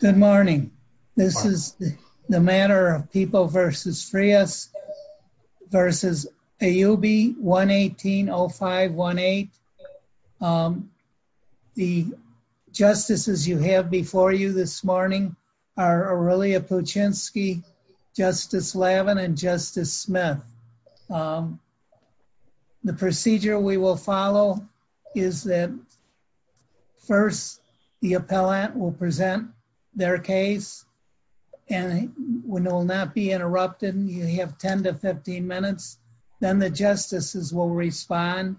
Good morning. This is the matter of People v. Frias v. AUB-118-0518. The justices you have before you this morning are Aurelia Puchinski, Justice Lavin, and Justice Smith. The procedure we will follow is that first the appellant will present their case and it will not be interrupted. You have 10-15 minutes. Then the justices will respond.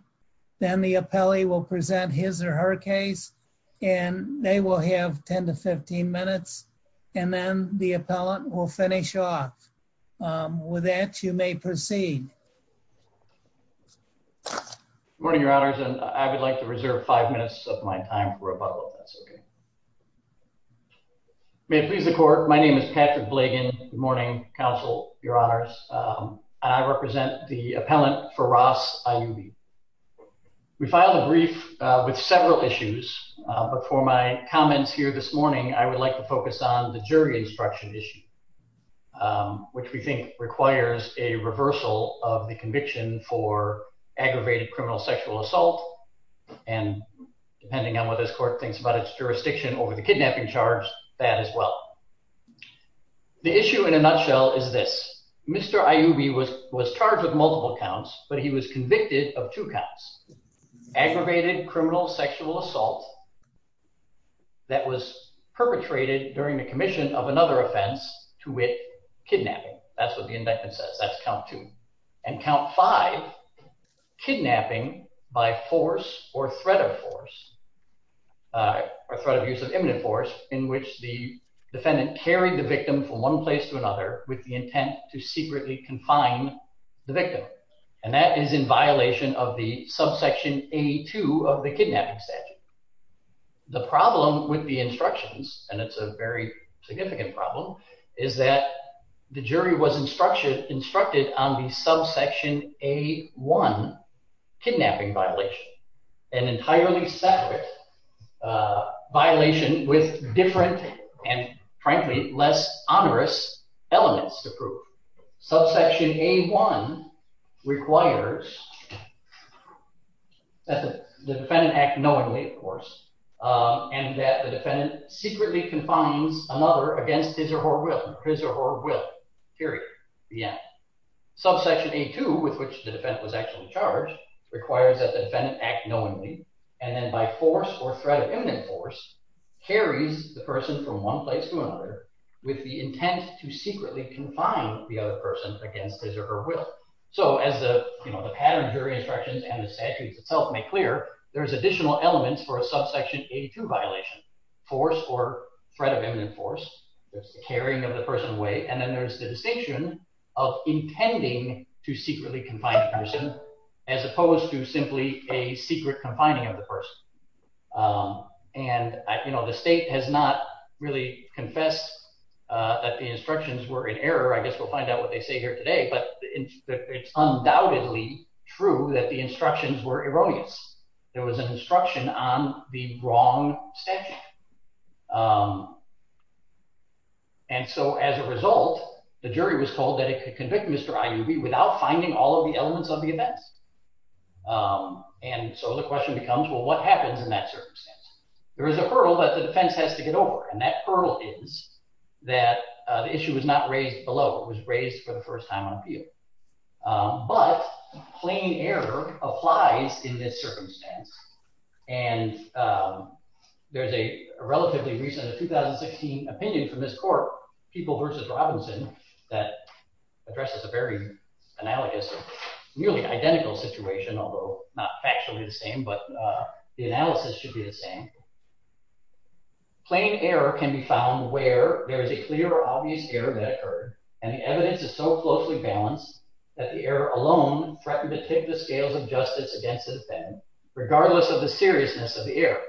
Then the appellee will present his or her case and they will have 10-15 minutes and then the appellant will finish off. With that, you may proceed. Good morning, Your Honors, and I would like to reserve five minutes of my time for a Bible test. May it please the Court, my name is Patrick Blagan. Good morning, Counsel, Your Honors. I represent the appellant Firas Ayyubi. We filed a brief with several issues, but for my comments here this morning, I would like to focus on the jury instruction issue, which we think requires a reversal of the conviction for aggravated criminal sexual assault and, depending on what this Court thinks about its jurisdiction over the kidnapping charge, that as well. The issue in a nutshell is this. Mr. Ayyubi was charged with multiple counts, but he was convicted of two counts. Aggravated criminal sexual assault that was perpetrated during the commission of another offense to wit, kidnapping. That's what the indictment says. That's count two. And count five, kidnapping by force or threat of force, or threat of use of imminent force, in which the defendant carried the victim from one place to another with the intent to secretly confine the victim. And that is in violation of the subsection A2 of the kidnapping statute. The problem with the instructions, and it's a very significant problem, is that the jury was instructed on the subsection A1 kidnapping violation, an entirely separate violation with different and, frankly, less onerous elements to prove. Subsection A1 requires that the defendant act knowingly, of course, and that the defendant secretly confines another against his or her will. His or her will. Period. The end. Subsection A2, with which the defendant was actually charged, requires that the defendant act knowingly and then by force or threat of force, carries the person from one place to another with the intent to secretly confine the other person against his or her will. So as the, you know, the pattern jury instructions and the statutes itself make clear, there's additional elements for a subsection A2 violation. Force or threat of imminent force. There's the carrying of the person away, and then there's the distinction of intending to secretly confine the person, as opposed to simply a secret confining of the person. And, you know, the state has not really confessed that the instructions were in error. I guess we'll find out what they say here today, but it's undoubtedly true that the instructions were erroneous. There was an instruction on the wrong statute. And so as a result, the jury was told that it could convict Mr. Iubi without finding all of the elements of the events. And so the question becomes, well, what happens in that circumstance? There is a hurdle that the defense has to get over, and that hurdle is that the issue was not raised below. It was raised for the first time on appeal. But plain error applies in this circumstance. And there's a relatively recent 2016 opinion from this court, People v. Robinson, that addresses a very analogous or identical situation, although not factually the same, but the analysis should be the same. Plain error can be found where there is a clear or obvious error that occurred, and the evidence is so closely balanced that the error alone threatened to tip the scales of justice against the defendant, regardless of the seriousness of the error.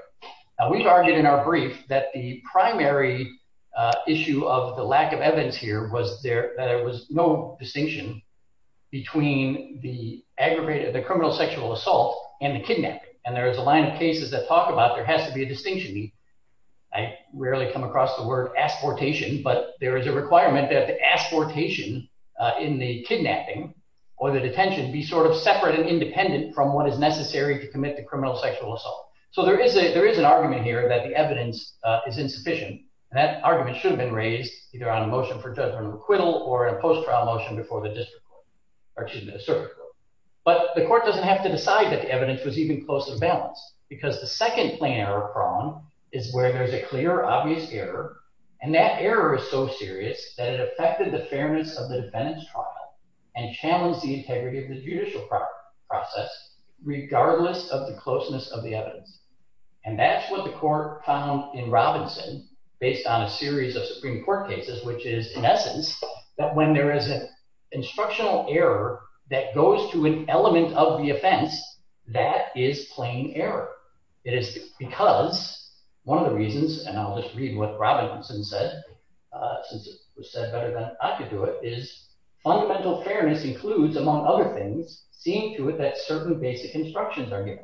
Now, we've argued in our brief that the criminal sexual assault and the kidnapping, and there is a line of cases that talk about there has to be a distinction. I rarely come across the word asportation, but there is a requirement that the asportation in the kidnapping or the detention be sort of separate and independent from what is necessary to commit the criminal sexual assault. So there is an argument here that the evidence is insufficient, and that argument should have been raised either on a motion for judgment acquittal or a post-trial motion before the district court, or excuse me, the circuit court. But the court doesn't have to decide that the evidence was even close to the balance, because the second plain error prone is where there's a clear obvious error, and that error is so serious that it affected the fairness of the defendant's trial and challenged the integrity of the judicial process, regardless of the closeness of the evidence. And that's what the court found in Robinson, based on a series of Supreme Court cases, which is, in essence, that when there is an instructional error that goes to an element of the offense, that is plain error. It is because one of the reasons, and I'll just read what Robinson said, since it was said better than I could do it, is fundamental fairness includes, among other things, seeing to it that certain basic instructions are given.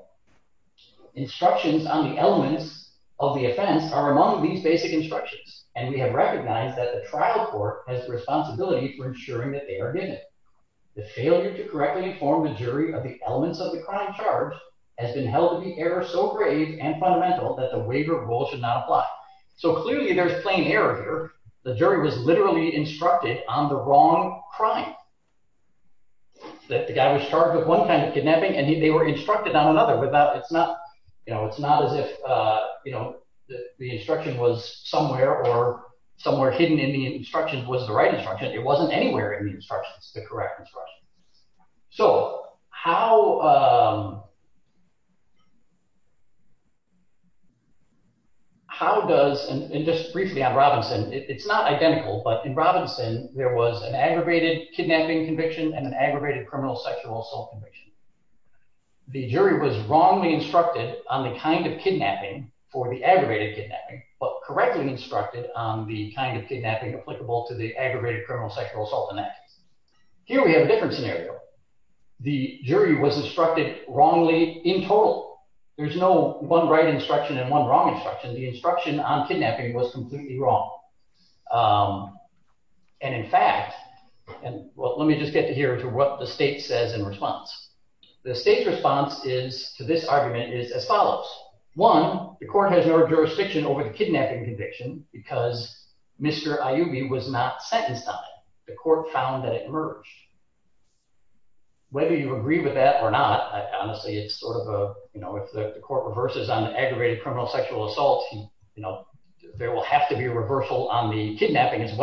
Instructions on the elements of the offense are among these basic instructions, and we have recognized that the trial court has the responsibility for ensuring that they are given. The failure to correctly inform the jury of the elements of the crime charge has been held to be error so grave and fundamental that the waiver of rule should not apply. So clearly there's plain error here. The jury was literally instructed on the wrong crime, that the guy was charged with one kind of kidnapping, and they were instructed on another. It's not, you know, it's not as if, you know, the instruction was somewhere or somewhere hidden in the instruction was the right instruction. It wasn't anywhere in the instructions the correct instruction. So how does, and just briefly on Robinson, it's not identical, but in and an aggravated criminal sexual assault conviction. The jury was wrongly instructed on the kind of kidnapping for the aggravated kidnapping, but correctly instructed on the kind of kidnapping applicable to the aggravated criminal sexual assault in that case. Here we have a different scenario. The jury was instructed wrongly in total. There's no one right instruction and one wrong instruction. The instruction on kidnapping was completely wrong, and in fact, and well, let me just get to here to what the state says in response. The state's response is to this argument is as follows. One, the court has no jurisdiction over the kidnapping conviction because Mr. Ayubi was not sentenced on it. The court found that it emerged. Whether you agree with that or not, I honestly, it's sort of a, you know, if the court reverses on an aggravated criminal sexual assault, you know, there will have to be a reversal on the conviction.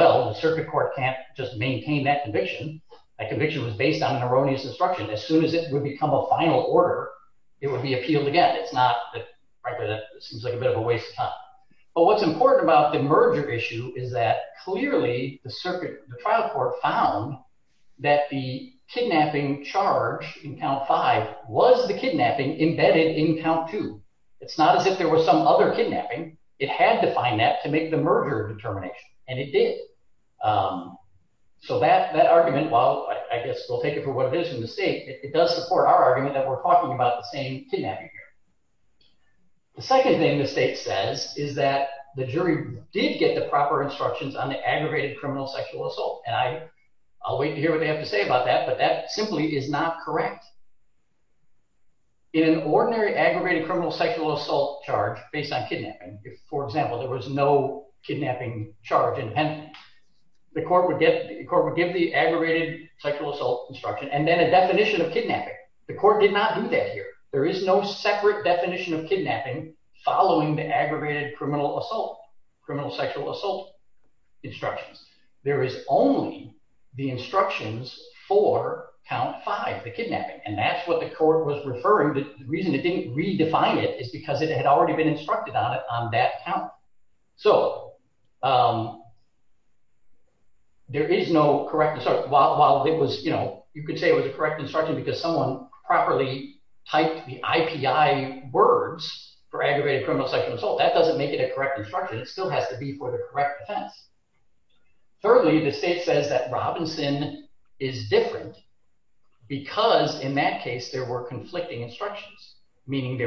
That conviction was based on an erroneous instruction. As soon as it would become a final order, it would be appealed again. It's not, frankly, that seems like a bit of a waste of time, but what's important about the merger issue is that clearly the circuit, the trial court found that the kidnapping charge in count five was the kidnapping embedded in count two. It's not as if there was some other kidnapping. It had to find that to make the merger determination, and it did. So that argument, while I guess we'll take it for what it is in the state, it does support our argument that we're talking about the same kidnapping here. The second thing the state says is that the jury did get the proper instructions on the aggravated criminal sexual assault, and I'll wait to hear what they have to say about that, but that simply is not correct. In an ordinary aggravated criminal sexual assault charge based on kidnapping, if, for example, there was no kidnapping charge independently, the court would give the aggravated sexual assault instruction and then a definition of kidnapping. The court did not do that here. There is no separate definition of kidnapping following the aggravated criminal assault, criminal sexual assault instructions. There is only the instructions for count five, the kidnapping, and that's what the court was referring to. The reason it didn't redefine it is because it had already been instructed on it on that count. So there is no correct, while it was, you know, you could say it was a correct instruction because someone properly typed the IPI words for aggravated criminal sexual assault, that doesn't make it a correct instruction. It still has to be for the correct defense. Thirdly, the state says that there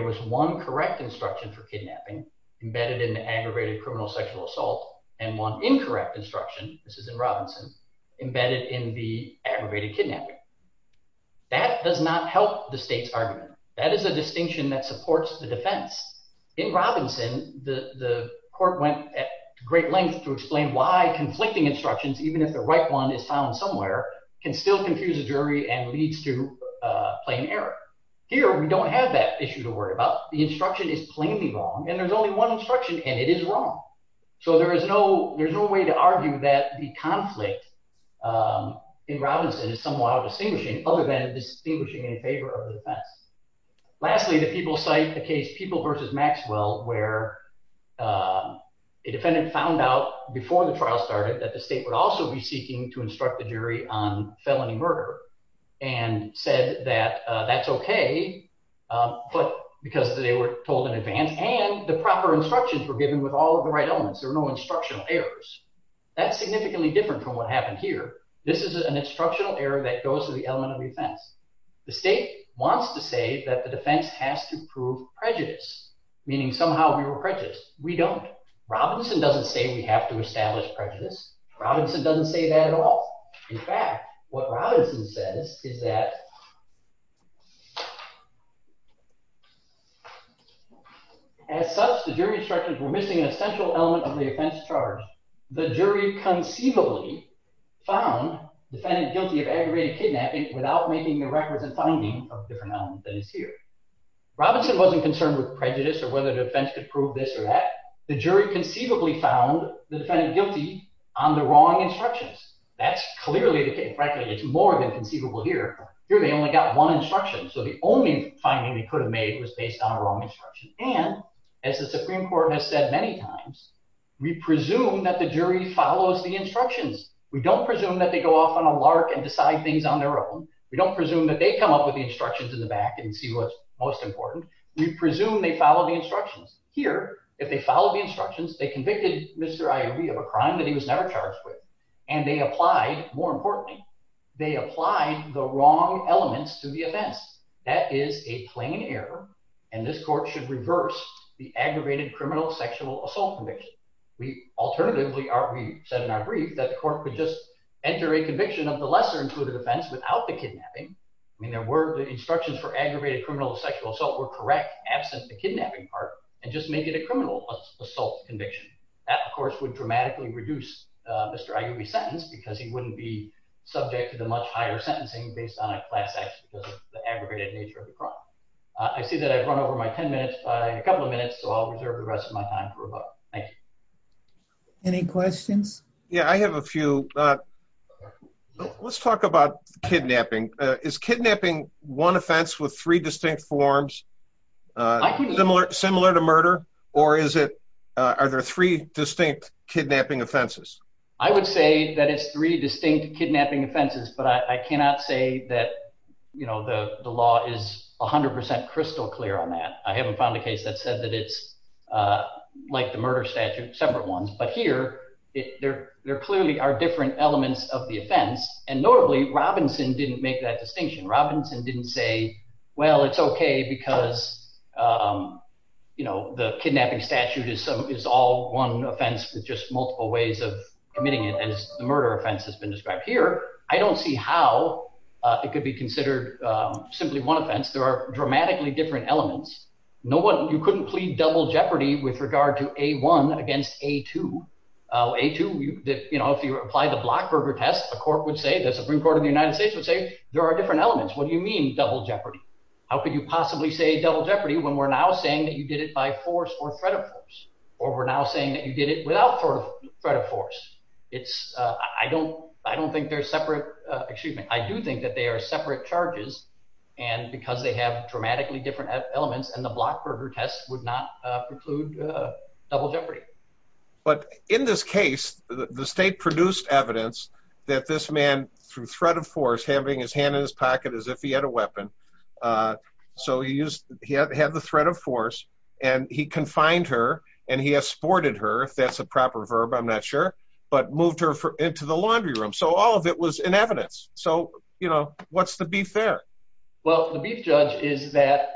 was one correct instruction for kidnapping embedded in the aggravated criminal sexual assault and one incorrect instruction, this is in Robinson, embedded in the aggravated kidnapping. That does not help the state's argument. That is a distinction that supports the defense. In Robinson, the court went at great length to explain why conflicting instructions, even if the right one is found somewhere, can still confuse a jury and leads to plain error. Here, we don't have that issue to worry about. The instruction is plainly wrong, and there's only one instruction, and it is wrong. So there is no, there's no way to argue that the conflict in Robinson is somewhat out of distinguishing, other than distinguishing in favor of the defense. Lastly, the people cite the case People v. Maxwell, where a defendant found out before the trial started that the state would also be seeking to instruct the jury on felony murder, and said that that's okay, but because they were told in advance, and the proper instructions were given with all of the right elements, there were no instructional errors. That's significantly different from what happened here. This is an instructional error that goes to the element of defense. The state wants to say that the defense has to prove prejudice, meaning somehow we were prejudiced. We don't. Robinson doesn't say we have to establish prejudice. Robinson doesn't say that at all. In fact, what Robinson says is that, as such, the jury instructions were missing an essential element of the offense charge. The jury conceivably found the defendant guilty of aggravated kidnapping without making the records and finding of different elements that is here. Robinson wasn't concerned with prejudice or whether the defense could prove this or that. The jury conceivably found the defendant guilty on the wrong instructions. That's clearly the case. Frankly, it's more than conceivable here. Here they only got one instruction, so the only finding they could have made was based on a wrong instruction. And, as the Supreme Court has said many times, we presume that the jury follows the instructions. We don't presume that they go off on a lark and decide things on their own. We don't presume that they come up with the instructions in the back and see what's most important. We presume they follow the instructions. Here, if they follow the instructions, they convicted Mr. Iov of a crime that he was never charged with, and they applied, more importantly, they applied the wrong elements to the offense. That is a plain error, and this court should reverse the aggravated criminal sexual assault conviction. Alternatively, we said in our brief that the court could just enter a conviction of the lesser-included offense without the kidnapping. I mean, the instructions for aggravated criminal sexual assault were correct absent the kidnapping part and just make it a criminal assault conviction. That, of course, would dramatically reduce Mr. Iov's sentence because he wouldn't be subject to the much higher sentencing based on a class act because of the aggregated nature of the crime. I see that I've run over my 10 minutes, but I have a couple of minutes, so I'll reserve the rest of my time for a vote. Thank you. Any questions? Yeah, I have a few. Let's talk about kidnapping. Is kidnapping one offense with three distinct forms similar to murder, or are there three distinct kidnapping offenses? I would say that it's three distinct kidnapping offenses, but I cannot say that the law is 100% crystal clear on that. I haven't found a case that said that it's like the murder statute, separate ones, but here, there clearly are different elements of the offense, and notably, Robinson didn't make that distinction. Robinson didn't say, well, it's okay because the kidnapping statute is all one offense with just multiple ways of committing it, as the murder offense has been described. Here, I don't see how it could be considered simply one offense. There are dramatically different elements. You couldn't plead double jeopardy with regard to A1 against A2. A2, if you apply the Blockberger test, the Supreme Court of the United States would say, there are different elements. What do you mean double jeopardy? How could you possibly say double jeopardy when we're now saying that you did it by force or threat of force, or we're now saying that you did it without threat of force? I do think that they are separate charges, and because they have dramatically different elements, and the Blockberger test would not preclude double jeopardy. But in this case, the state produced evidence that this man, through threat of force, having his hand in his pocket as if he had a weapon, so he had the threat of force, and he confined her, and he esported her, if that's a proper verb, I'm not sure, but moved her into the laundry room. So, all of it was in evidence. So, what's the beef there? Well, the beef, Judge, is that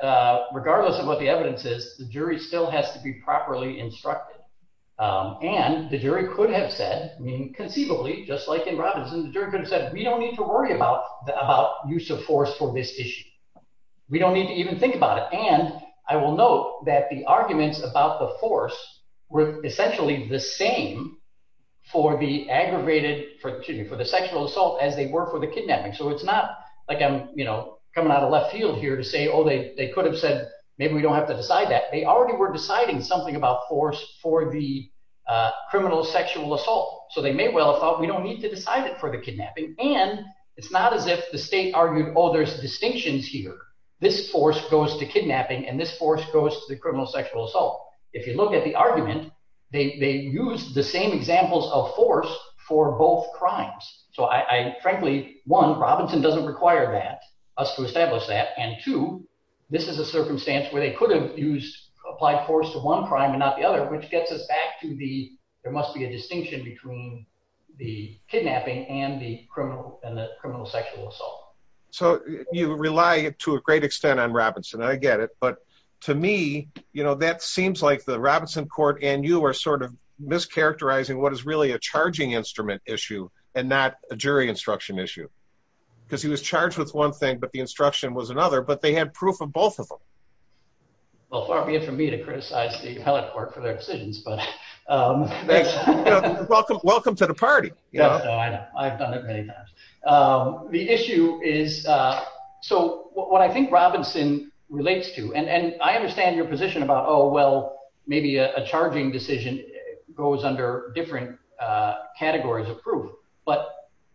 regardless of what the evidence is, the jury still has to be properly instructed, and the jury could have said, I mean, conceivably, just like in Robinson, the jury could have said, we don't need to worry about the, about use of force for this issue. We don't need to even think about it, and I will note that the arguments about the force were essentially the same for the aggravated, for, excuse me, for the sexual assault, as they were for the kidnapping. So, it's not like I'm, you know, coming out of left field here to say, oh, they could have said, maybe we don't have to decide that. They already were deciding something about force for the criminal sexual assault, so they may well have thought, we don't need to decide it for the kidnapping, and it's not as if the state argued, oh, there's distinctions here. This force goes to kidnapping, and this force goes to the criminal sexual assault. If you look at the argument, they used the same examples of force for both crimes. So, I, frankly, one, Robinson doesn't require that, us to establish that, and two, this is a circumstance where they could have used applied force to one crime and not the other, which gets us back to the, there must be a distinction between the kidnapping and the criminal, and the criminal sexual assault. So, you rely to a great extent on Robinson, and I get it, but to me, you know, that seems like the Robinson court and you are sort of mischaracterizing what is really a charging instrument issue, and not a jury instruction issue, because he was charged with one thing, but the instruction was another, but they had proof of both of them. Well, far be it from me to criticize the appellate court for their decisions, but. Welcome to the party. Yeah, I know, I've done it many times. The issue is, so what I think Robinson relates to, and I understand your position about, oh, well, maybe a charging decision goes under different categories of proof, but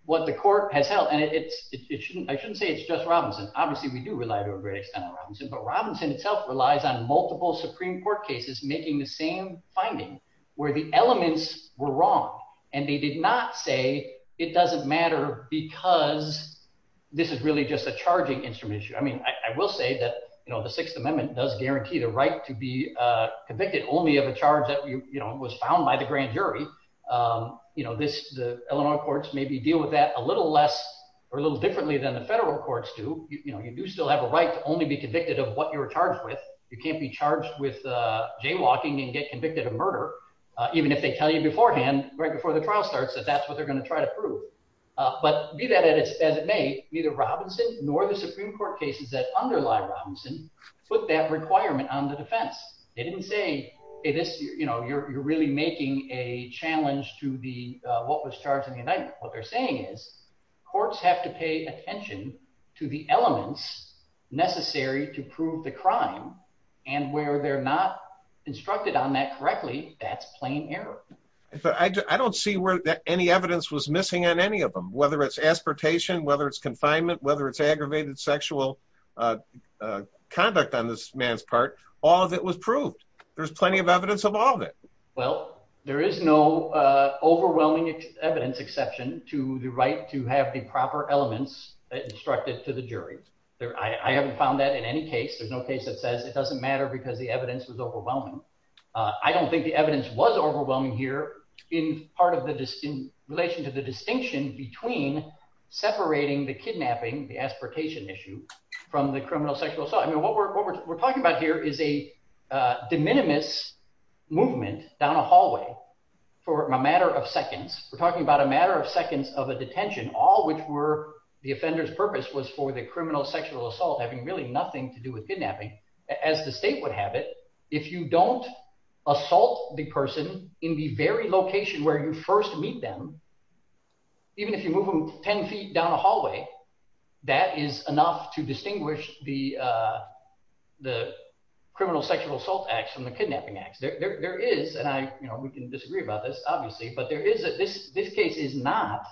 what the court has held, and it's, it shouldn't, I shouldn't say it's just Robinson. Obviously, we do rely to a great extent on Robinson, but Robinson itself relies on multiple Supreme Court cases making the same finding, where the elements were wrong, and they did not say it doesn't matter because this is really just a charging instrument issue. I mean, I will say that, you know, the Sixth Circuit only have a charge that, you know, was found by the grand jury. You know, this, the Illinois courts maybe deal with that a little less, or a little differently than the federal courts do. You know, you do still have a right to only be convicted of what you're charged with. You can't be charged with jaywalking and get convicted of murder, even if they tell you beforehand, right before the trial starts, that that's what they're going to try to prove, but be that as it may, neither Robinson nor the Supreme Court cases that underlie Robinson put that requirement on the defense. They didn't say it is, you know, you're really making a challenge to the, what was charged in the indictment. What they're saying is courts have to pay attention to the elements necessary to prove the crime, and where they're not instructed on that correctly, that's plain error. I don't see where any evidence was missing on any of them, whether it's aspartation, whether it's confinement, whether it's aggravated sexual conduct on this man's part, all of it was proved. There's plenty of evidence of all of it. Well, there is no overwhelming evidence exception to the right to have the proper elements instructed to the jury. I haven't found that in any case. There's no case that says it doesn't matter because the evidence was overwhelming. I don't think the evidence was overwhelming here in relation to the distinction between separating the kidnapping, the aspartation issue, from the criminal sexual assault. I mean, what we're talking about here is a de minimis movement down a hallway for a matter of seconds. We're talking about a matter of seconds of a detention, all which were the offender's purpose was for the criminal sexual assault having really nothing to do with it. Even if you move them 10 feet down a hallway, that is enough to distinguish the criminal sexual assault acts from the kidnapping acts. There is, and we can disagree about this, obviously, but this case is not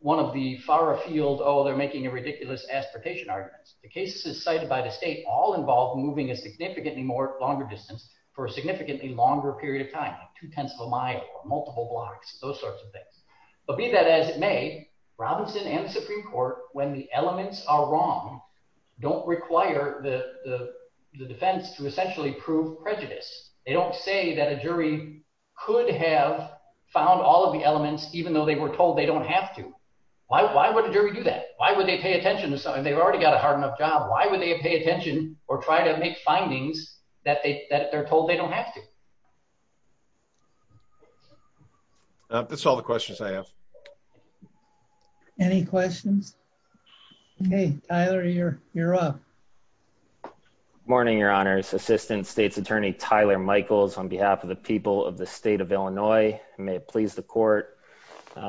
one of the far afield, oh, they're making a ridiculous aspartation arguments. The cases cited by the state all involve moving a significantly longer distance for a significantly longer period of time, two-tenths of a mile, multiple blocks, those sorts of things. But be that as it may, Robinson and the Supreme Court, when the elements are wrong, don't require the defense to essentially prove prejudice. They don't say that a jury could have found all of the elements, even though they were told they don't have to. Why would a jury do that? Why would they pay attention to something? They've already got a hard enough job. Why would they pay attention or try to make findings that they're told they don't have to? That's all the questions I have. Any questions? Okay, Tyler, you're up. Morning, your honors. Assistant State's Attorney Tyler Michaels on behalf of the people of the state of Illinois. May it please the court.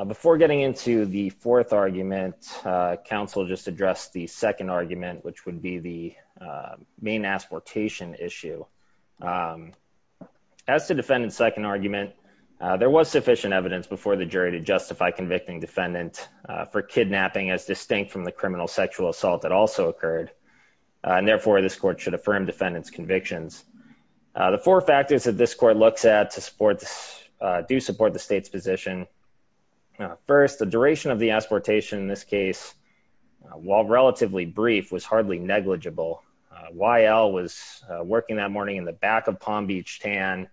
Before getting into the fourth argument, counsel just addressed the second argument, which would be the main asportation issue. As to defendant's second argument, there was sufficient evidence before the jury to justify convicting defendant for kidnapping as distinct from the criminal sexual assault that also occurred. And therefore, this court should affirm defendant's convictions. The four factors that this court looks at to support this do support the state's position. Now, first, the duration of the asportation in this case, while relatively brief, was hardly negligible. Y.L. was working that morning in the back of Palm Beach Tan,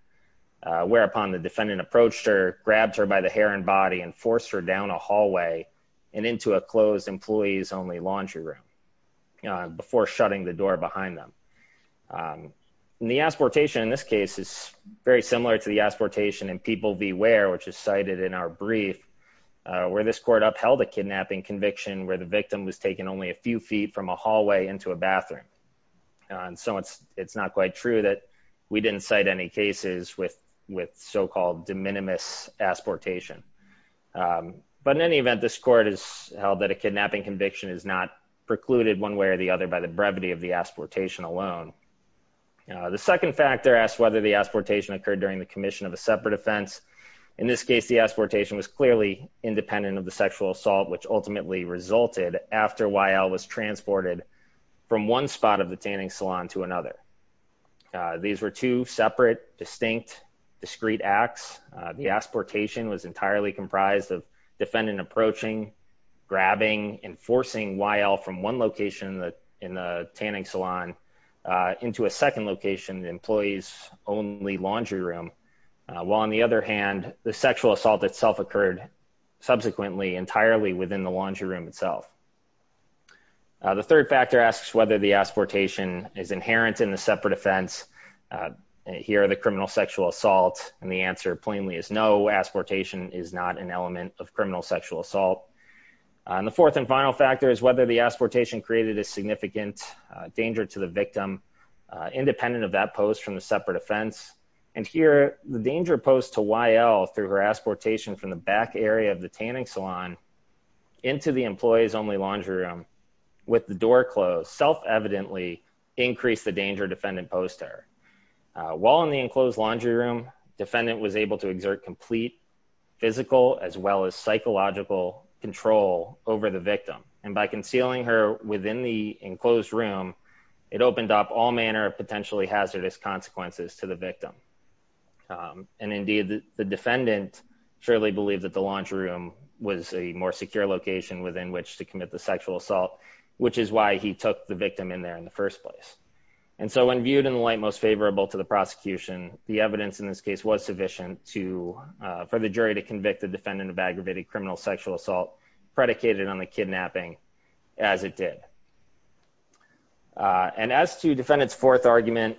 whereupon the defendant approached her, grabbed her by the hair and body and forced her down a hallway and into a closed employees only laundry room before shutting the door behind them. The asportation in this case is very similar to the asportation and people beware, which is cited in our brief, where this court upheld a kidnapping conviction where the victim was taken only a few feet from a hallway into a bathroom. And so it's it's not quite true that we didn't cite any cases with with so-called de minimis asportation. But in any event, this court has held that a kidnapping conviction is not precluded one way or the other by the brevity of the asportation alone. The second factor asks whether the asportation occurred during the commission of a separate offense. In this case, the asportation was clearly independent of the sexual assault, which ultimately resulted after Y.L. was transported from one spot of the tanning salon to another. These were two separate, distinct, discreet acts. The asportation was entirely comprised of defendant approaching, grabbing and forcing Y.L. from one location in the tanning salon into a second location, the employee's only laundry room. While on the other hand, the sexual assault itself occurred subsequently entirely within the laundry room itself. The third factor asks whether the asportation is inherent in the separate offense. Here are the criminal sexual assault. And the answer plainly is no. Asportation is not an element of criminal sexual assault. And the fourth and final factor is whether the asportation created a significant danger to the victim independent of that post from the separate offense. And here, the danger posed to Y.L. through her asportation from the back area of the tanning salon into the employee's only laundry room with the door closed self-evidently increased the danger defendant posed to her. While in the enclosed laundry room, defendant was able to exert complete physical as well as psychological control over the victim. And by concealing her within the enclosed room, it opened up all manner of potentially hazardous consequences to the victim. And indeed, the defendant surely believed that the laundry room was a more secure location within which to commit the sexual assault, which is why he took the victim in there in the first place. And so when viewed in the light most favorable to the prosecution, the evidence in this case was sufficient to for the jury to convict the defendant of aggravated criminal sexual assault predicated on the kidnapping as it did. And as to defendant's fourth argument,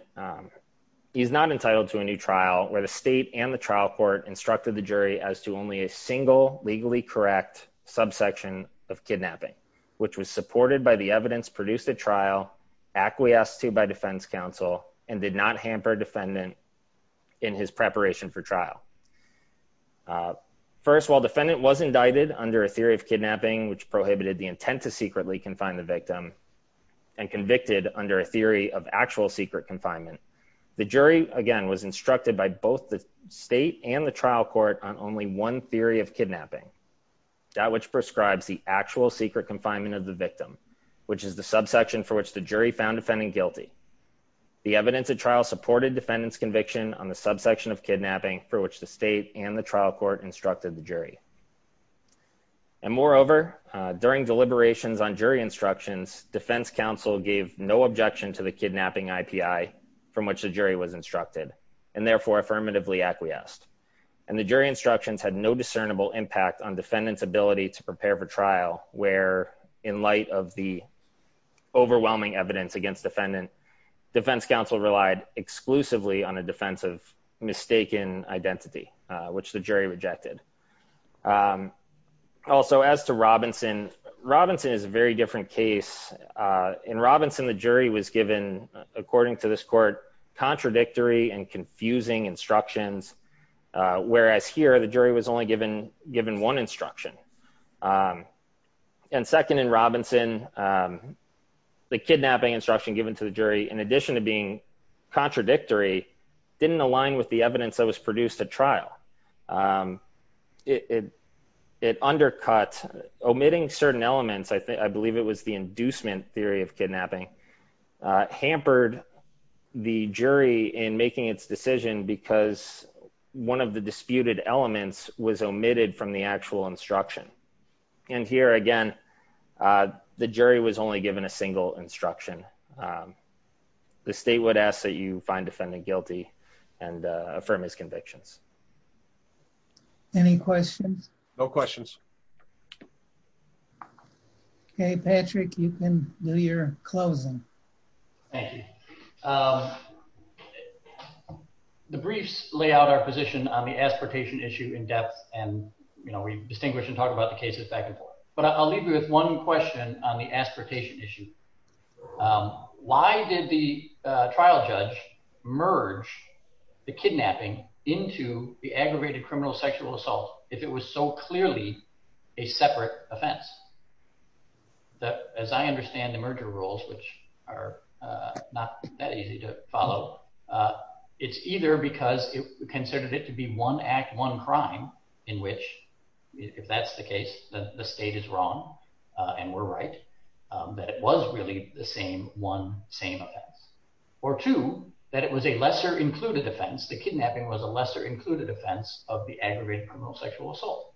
he's not entitled to a new trial where the state and the trial court instructed the jury as to only a single legally correct subsection of kidnapping, which was supported by the evidence produced at trial, acquiesced to by defense counsel, and did not hamper defendant in his preparation for trial. First, while defendant was indicted under a theory of kidnapping, which prohibited the intent to secretly confine the victim, and convicted under a theory of actual secret confinement, the jury again was instructed by both the state and the trial court on only one theory of kidnapping, that which prescribes the actual secret confinement of the victim, which is the subsection for which the jury found defendant guilty. The evidence at trial supported defendant's conviction on the subsection of kidnapping for which the state and the trial court instructed the jury. And moreover, during deliberations on jury instructions, defense counsel gave no objection to the kidnapping IPI from which the jury was instructed, and therefore affirmatively acquiesced. And the jury instructions had no discernible impact on defendant's ability to prepare for trial where in light of the overwhelming evidence against defendant, defense counsel relied exclusively on a defense of mistaken identity, which the jury rejected. Also, as to Robinson, Robinson is a very different case. In Robinson, the jury was given, according to this court, contradictory and confusing instructions, whereas here the jury was only given one instruction. And second in Robinson, the kidnapping instruction given to the jury, in addition to being contradictory, didn't align with the evidence that was produced at trial. It undercut, omitting certain elements, I think, I believe it was the inducement theory of kidnapping, hampered the jury in making its decision because one of the disputed elements was omitted from the jury was only given a single instruction. The state would ask that you find defendant guilty and affirm his convictions. Any questions? No questions. Okay, Patrick, you can do your closing. Thank you. The briefs lay out our position on the aspartation issue in depth, and, you know, we distinguish and on the aspartation issue. Why did the trial judge merge the kidnapping into the aggravated criminal sexual assault if it was so clearly a separate offense? As I understand the merger rules, which are not that easy to follow, it's either because it considered it to be one act, one crime in which, if that's the case, that the state is wrong and we're right, that it was really the same one, same offense, or two, that it was a lesser included offense. The kidnapping was a lesser included offense of the aggravated criminal sexual assault.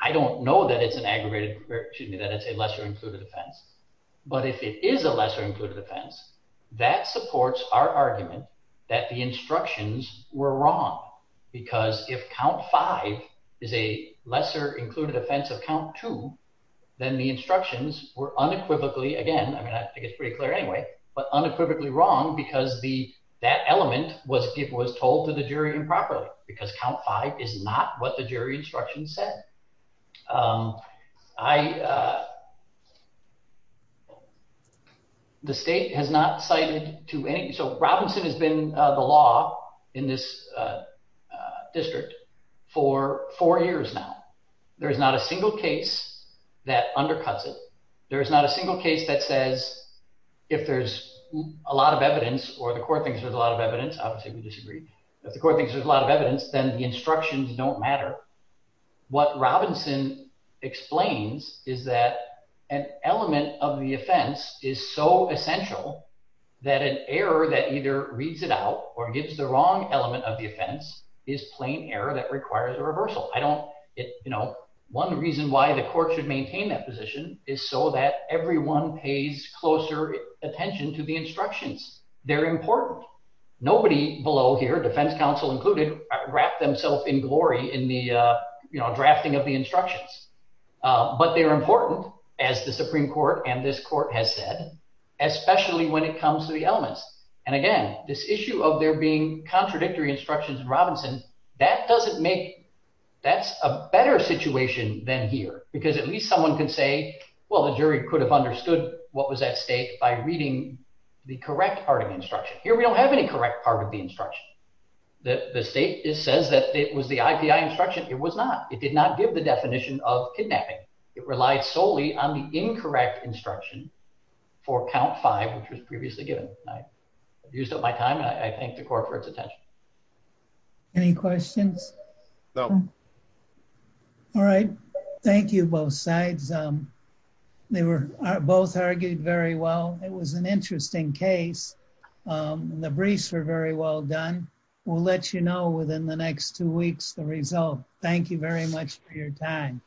I don't know that it's an aggravated, excuse me, that it's a lesser included offense, but if it is a lesser included offense, that supports our argument that the instructions were wrong, because if count five is a lesser included offense of count two, then the instructions were unequivocally, again, I mean, I think it's pretty clear anyway, but unequivocally wrong because that element was told to the jury improperly, because count five is not what the jury instructions said. The state has not cited to any, so Robinson has been the law in this district for four years now. There is not a single case that undercuts it. There is not a single case that says, if there's a lot of evidence or the court thinks there's a lot of evidence, obviously we disagree, if the court thinks there's a lot of evidence, then the instructions don't matter. What Robinson explains is that an element of the offense is so essential that an error that either reads it out or gives the wrong element of the offense is plain error that requires a reversal. I don't, you know, one reason why the court should maintain that position is so that everyone pays closer attention to the instructions. They're important. Nobody below here, defense counsel included, wrapped themselves in glory in the, you know, drafting of the instructions. But they're important as the Supreme Court and this court has said, especially when it comes to the elements. And again, this issue of there being contradictory instructions in Robinson, that doesn't make, that's a better situation than here, because at least someone can say, well, the jury could have understood what was at stake by reading the correct part of the instruction. Here we don't have any correct part of the instruction. The state says that it was the IPI instruction. It was not. It did not give the definition of kidnapping. It relied solely on the incorrect instruction for count five, which was previously given. I've used up my time and I thank the court for its attention. Any questions? No. All right. Thank you, both sides. They were both argued very well. It was an interesting case. The briefs were very well done. We'll let you know within the next two weeks, the result. Thank you very much for your time.